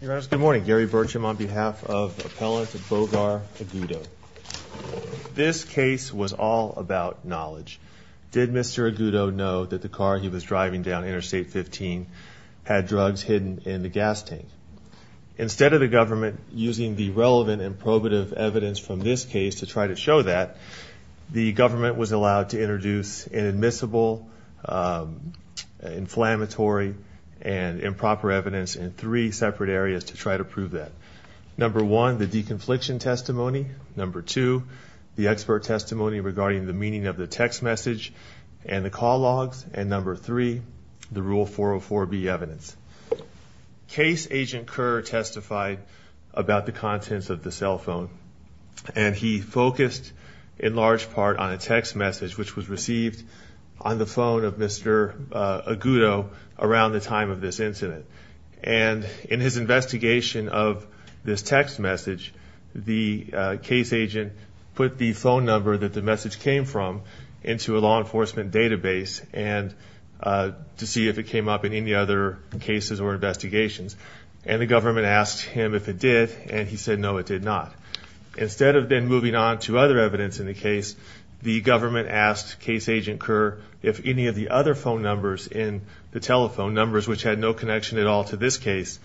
Good morning, Gary Burcham on behalf of appellant Bogar Agudo. This case was all about knowledge. Did Mr. Agudo know that the car he was driving down Interstate 15 had drugs hidden in the gas tank? Instead of the government using the relevant and probative evidence from this case to try to show that, the government was allowed to introduce an admissible, inflammatory, and improper evidence in three separate areas to try to prove that. Number one, the deconfliction testimony. Number two, the expert testimony regarding the meaning of the text message and the call logs. And number three, the Rule 404B evidence. Case agent Kerr testified about the contents of the cell phone and he focused in large part on a text message which was received on the phone of Mr. Agudo around the time of this incident. And in his investigation of this text message, the case agent put the phone number that the message came from into a law enforcement database and to see if it came up in any other cases or investigations. And the government asked him if it did and he said no it did not. Instead of then moving on to other evidence in the case, the government asked case agent Kerr if any of the other phone numbers in the telephone numbers, which had no connection at all to this case,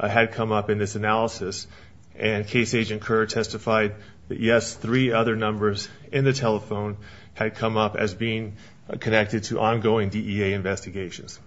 had come up in this analysis. And case agent Kerr testified that yes, three other numbers in the telephone had come up as being connected to ongoing DEA investigations.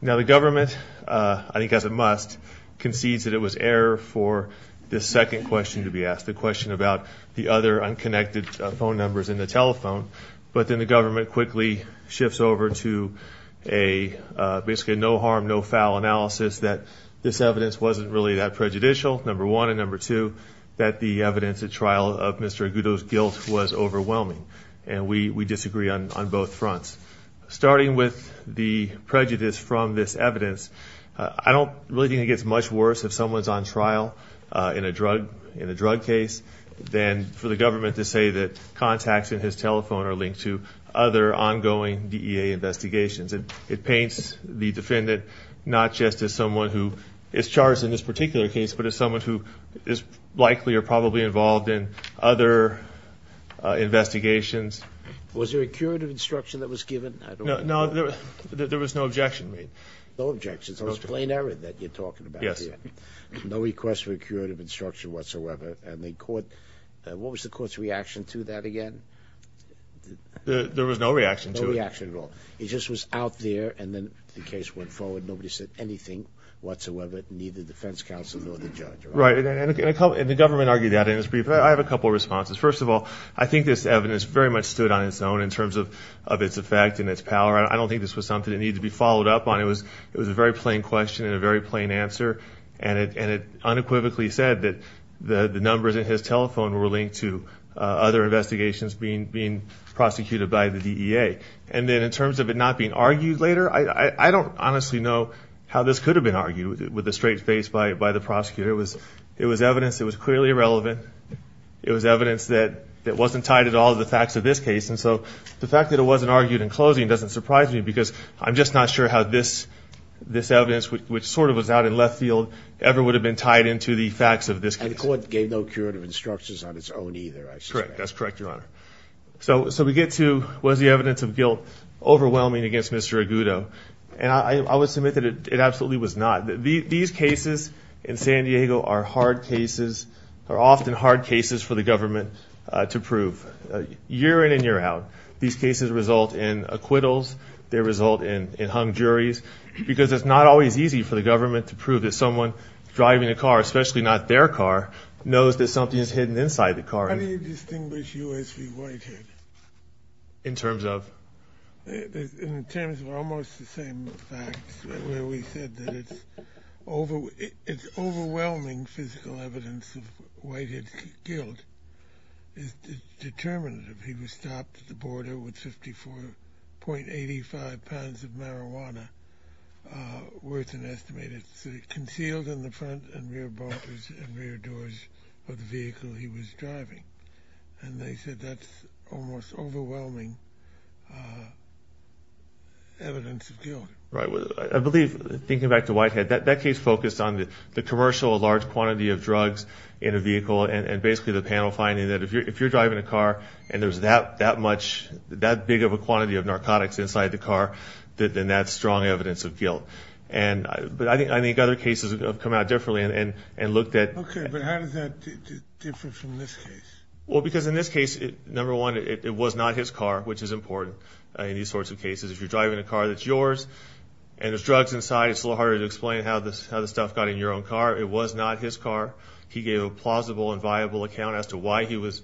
Now the government, I think as a must, concedes that it was error for this second question to be asked. The question about the other unconnected phone numbers in the telephone. But then the government quickly shifts over to a basically no harm no foul analysis that this evidence wasn't really that prejudicial, number one. And number two, that the evidence at trial of Mr. Agudo's guilt was overwhelming. And we disagree on both fronts. Starting with the prejudice from this evidence, I don't really think it gets much worse if someone's on trial in a drug case than for the government to say that contacts in his telephone are linked to other ongoing DEA investigations. It paints the defendant not just as someone who is charged in this particular case, but as someone who is likely or probably involved in other investigations. Was there a curative instruction that was given? No, there was no objection. No objections, so it was plain error that you're talking about here. No request for curative instruction whatsoever. And the court, what was the court's reaction to that again? There was no reaction to it. No reaction at all. It just was out there and then the case went forward. Nobody said anything whatsoever, neither the defense counsel nor the judge. Right. And the government argued that in its brief. I have a couple of responses. First of all, I think this evidence very much stood on its own in terms of its effect and its power. I don't think this was something that needed to be followed up on. It was a very plain question and a very plain answer. And it unequivocally said that the numbers in his telephone were linked to other investigations being prosecuted by the DEA. And then in terms of it not being argued later, I don't honestly know how this could have been argued with a straight face by the prosecutor. It was evidence that was clearly irrelevant. It was evidence that wasn't tied at all to the facts of this case. And so the fact that it wasn't this evidence, which sort of was out in left field, ever would have been tied into the facts of this case. And the court gave no curative instructions on its own either, I suspect. Correct. That's correct, Your Honor. So we get to, was the evidence of guilt overwhelming against Mr. Agudo? And I would submit that it absolutely was not. These cases in San Diego are hard cases, are often hard cases for the government to prove, year in and year out. These cases result in acquittals. They result in hung juries. Because it's not always easy for the government to prove that someone driving a car, especially not their car, knows that something is hidden inside the car. How do you distinguish U.S. v. Whitehead? In terms of? In terms of almost the same facts where we said that it's overwhelming physical evidence of Whitehead's guilt is determinative. He was stopped at the border with 54.85 pounds of marijuana, where it's an estimated, concealed in the front and rear bumpers and rear doors of the vehicle he was driving. And they said that's almost overwhelming evidence of guilt. Right. I believe, thinking back to Whitehead, that case focused on the commercial large quantity of drugs in a vehicle and basically the panel finding that if you're driving a car and there's that much, that big of a quantity of narcotics inside the car, then that's strong evidence of guilt. But I think other cases have come out differently and looked at... Okay, but how does that differ from this case? Well, because in this case, number one, it was not his car, which is important in these sorts of cases. If you're driving a car that's yours and there's drugs inside, it's a little harder to explain how the stuff got in your own car. It was not his car. He gave a plausible and viable account as to why he was...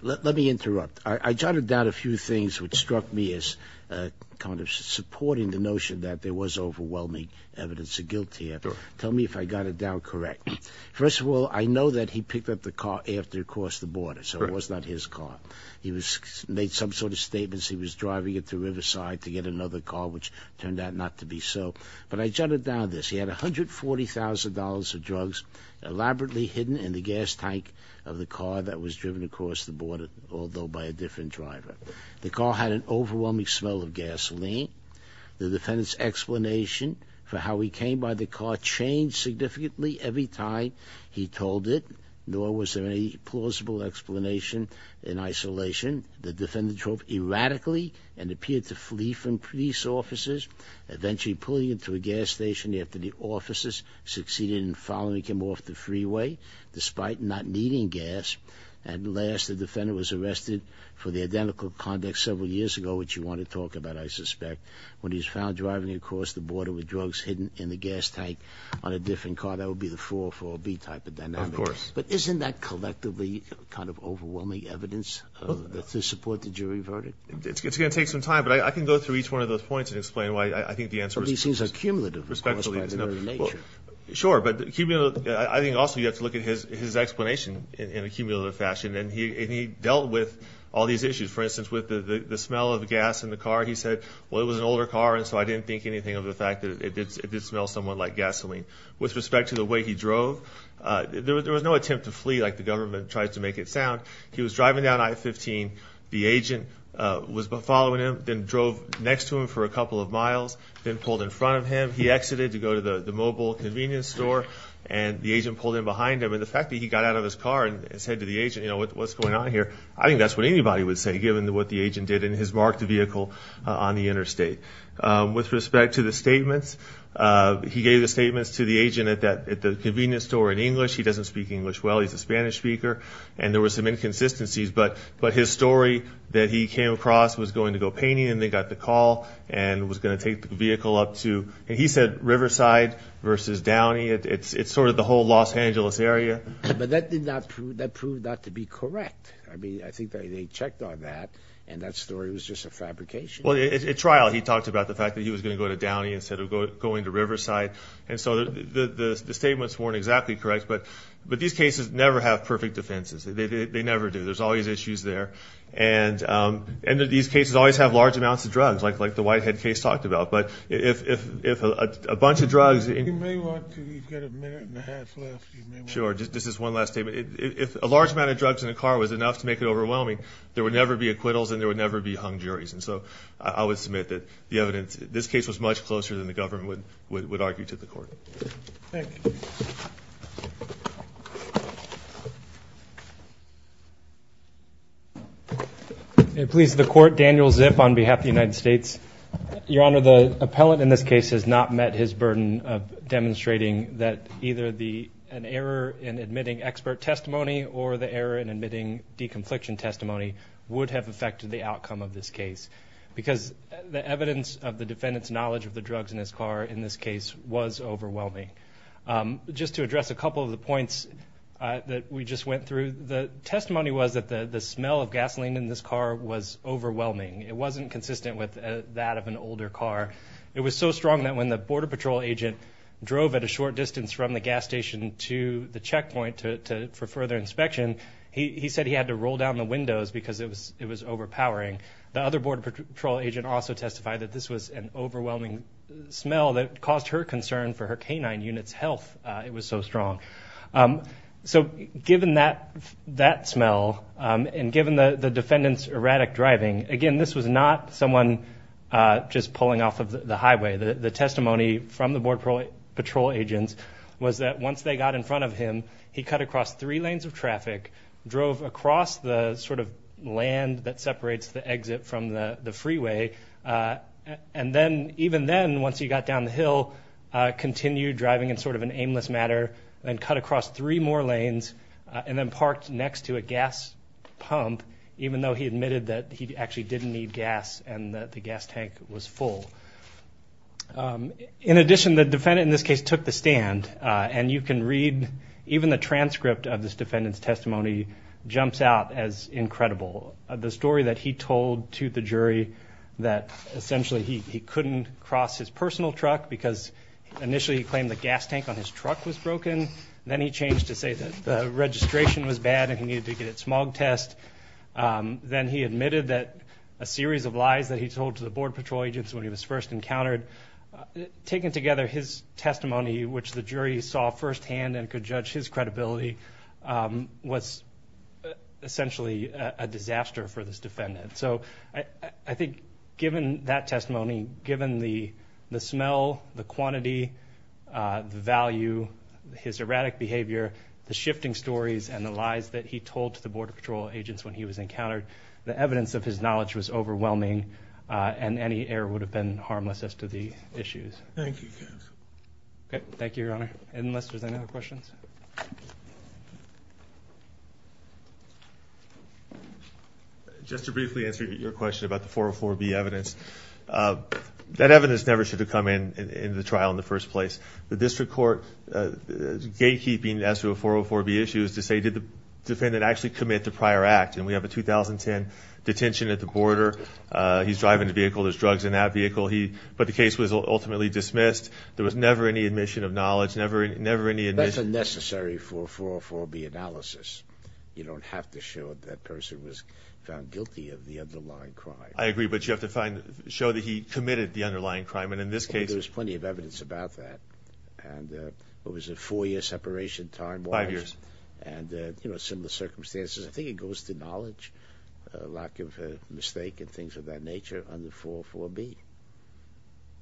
Let me interrupt. I jotted down a few things which struck me as kind of supporting the notion that there was overwhelming evidence of guilt here. Tell me if I got it down correct. First of all, I know that he picked up the car after he crossed the border, so it was not his car. He made some sort of statements he was driving it to Riverside to get another car, which turned out not to be so. But I drugs elaborately hidden in the gas tank of the car that was driven across the border, although by a different driver. The car had an overwhelming smell of gasoline. The defendant's explanation for how he came by the car changed significantly every time he told it, nor was there any plausible explanation in isolation. The defendant drove erratically and appeared to flee from police officers, eventually pulling into a gas station after the officers succeeded in following him off the freeway, despite not needing gas. And last, the defendant was arrested for the identical conduct several years ago, which you want to talk about, I suspect, when he was found driving across the border with drugs hidden in the gas tank on a different car. That would be the 404B type of dynamic. Of course. But isn't that collectively kind of overwhelming evidence to support the jury verdict? It's going to take some time, but I can go through each one of those points and explain why I think the answer is accumulative. Sure. But I think also you have to look at his explanation in an accumulative fashion. And he dealt with all these issues. For instance, with the smell of gas in the car, he said, well, it was an older car, and so I didn't think anything of the fact that it did smell somewhat like gasoline. With respect to the way he drove, there was no attempt to flee like the government tried to make it sound. He was driving down I-15. The agent was following him, then drove next to him for a couple of miles, then pulled in front of him. He exited to go to the mobile convenience store, and the agent pulled in behind him. And the fact that he got out of his car and said to the agent, you know, what's going on here, I think that's what anybody would say given what the agent did in his marked vehicle on the interstate. With respect to the statements, he gave the statements to the agent at the convenience store in English. He doesn't speak English well. He's a Spanish speaker, and there were some inconsistencies. But his story that he came across was going to go painting, and they got the call, and was going to take the vehicle up to, and he said, Riverside versus Downey. It's sort of the whole Los Angeles area. But that proved not to be correct. I mean, I think they checked on that, and that story was just a fabrication. Well, at trial, he talked about the fact that he was going to go to Downey instead of going to Riverside, and so the statements weren't exactly correct. But these cases never have perfect defenses. They never do. There's always And these cases always have large amounts of drugs, like the Whitehead case talked about. But if a bunch of drugs... You may want to, you've got a minute and a half left. Sure, just this is one last statement. If a large amount of drugs in a car was enough to make it overwhelming, there would never be acquittals, and there would never be hung juries. And so I would submit that the evidence, this case was much closer than the government would on behalf of the United States. Your Honor, the appellant in this case has not met his burden of demonstrating that either an error in admitting expert testimony or the error in admitting deconfliction testimony would have affected the outcome of this case, because the evidence of the defendant's knowledge of the drugs in his car in this case was overwhelming. Just to address a couple of the points that we just went through, the testimony was that the smell of gasoline in this car was overwhelming. It wasn't consistent with that of an older car. It was so strong that when the Border Patrol agent drove at a short distance from the gas station to the checkpoint for further inspection, he said he had to roll down the windows because it was overpowering. The other Border Patrol agent also testified that this was an overwhelming smell that caused her concern for her canine unit's health. It was so strong. So given that smell, and given the defendant's erratic driving, again, this was not someone just pulling off of the highway. The testimony from the Border Patrol agents was that once they got in front of him, he cut across three lanes of traffic, drove across the sort of land that separates the exit from the freeway, and then, even then, once he got down the hill, continued driving in sort of an aimless manner, and cut across three more lanes, and then parked next to a gas pump, even though he admitted that he actually didn't need gas and that the gas tank was full. In addition, the defendant in this case took the stand, and you can read, even the transcript of this defendant's testimony jumps out as incredible. The story that he told to the jury that, essentially, he couldn't cross his personal truck because initially he claimed the gas tank on his truck was broken. Then he changed to say that the registration was bad and he needed to get a smog test. Then he admitted that a series of lies that he told to the Border Patrol agents when he was first encountered, taking together his testimony, which the jury saw firsthand and could judge his credibility, was, essentially, a disaster for this defendant. So, I think, given that testimony, given the smell, the quantity, the value, his erratic behavior, the shifting stories, and the lies that he told to the Border Patrol agents when he was encountered, the evidence of his knowledge was overwhelming, and any error would have been harmless as to the issues. Thank you, counsel. Okay, thank you, Your Honor. Ed and Lester, is there any other questions? Just to briefly answer your question about the 404B evidence, that evidence never should have come into the trial in the first place. The district court gatekeeping as to a 404B issue is to say, did the defendant actually commit the prior act? And we have a 2010 detention at the border. He's driving the vehicle, there's drugs in that vehicle, but the case was ultimately dismissed. There was never any admission of knowledge, never any... That's unnecessary for a 404B analysis. You don't have to show that that person was found guilty of the underlying crime. I agree, but you have to find... Show that he committed the underlying crime, and in this case... There's plenty of evidence about that. And it was a four year separation time... Five years. And similar circumstances. I think it goes to knowledge, lack of mistake, and things of that nature on the 404B.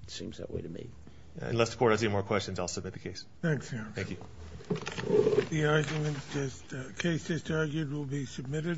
It seems that way to me. And Lester Court, if there aren't any more questions, I'll submit the case. Thanks, Your Honor. Thank you. The argument is the case is argued will be submitted.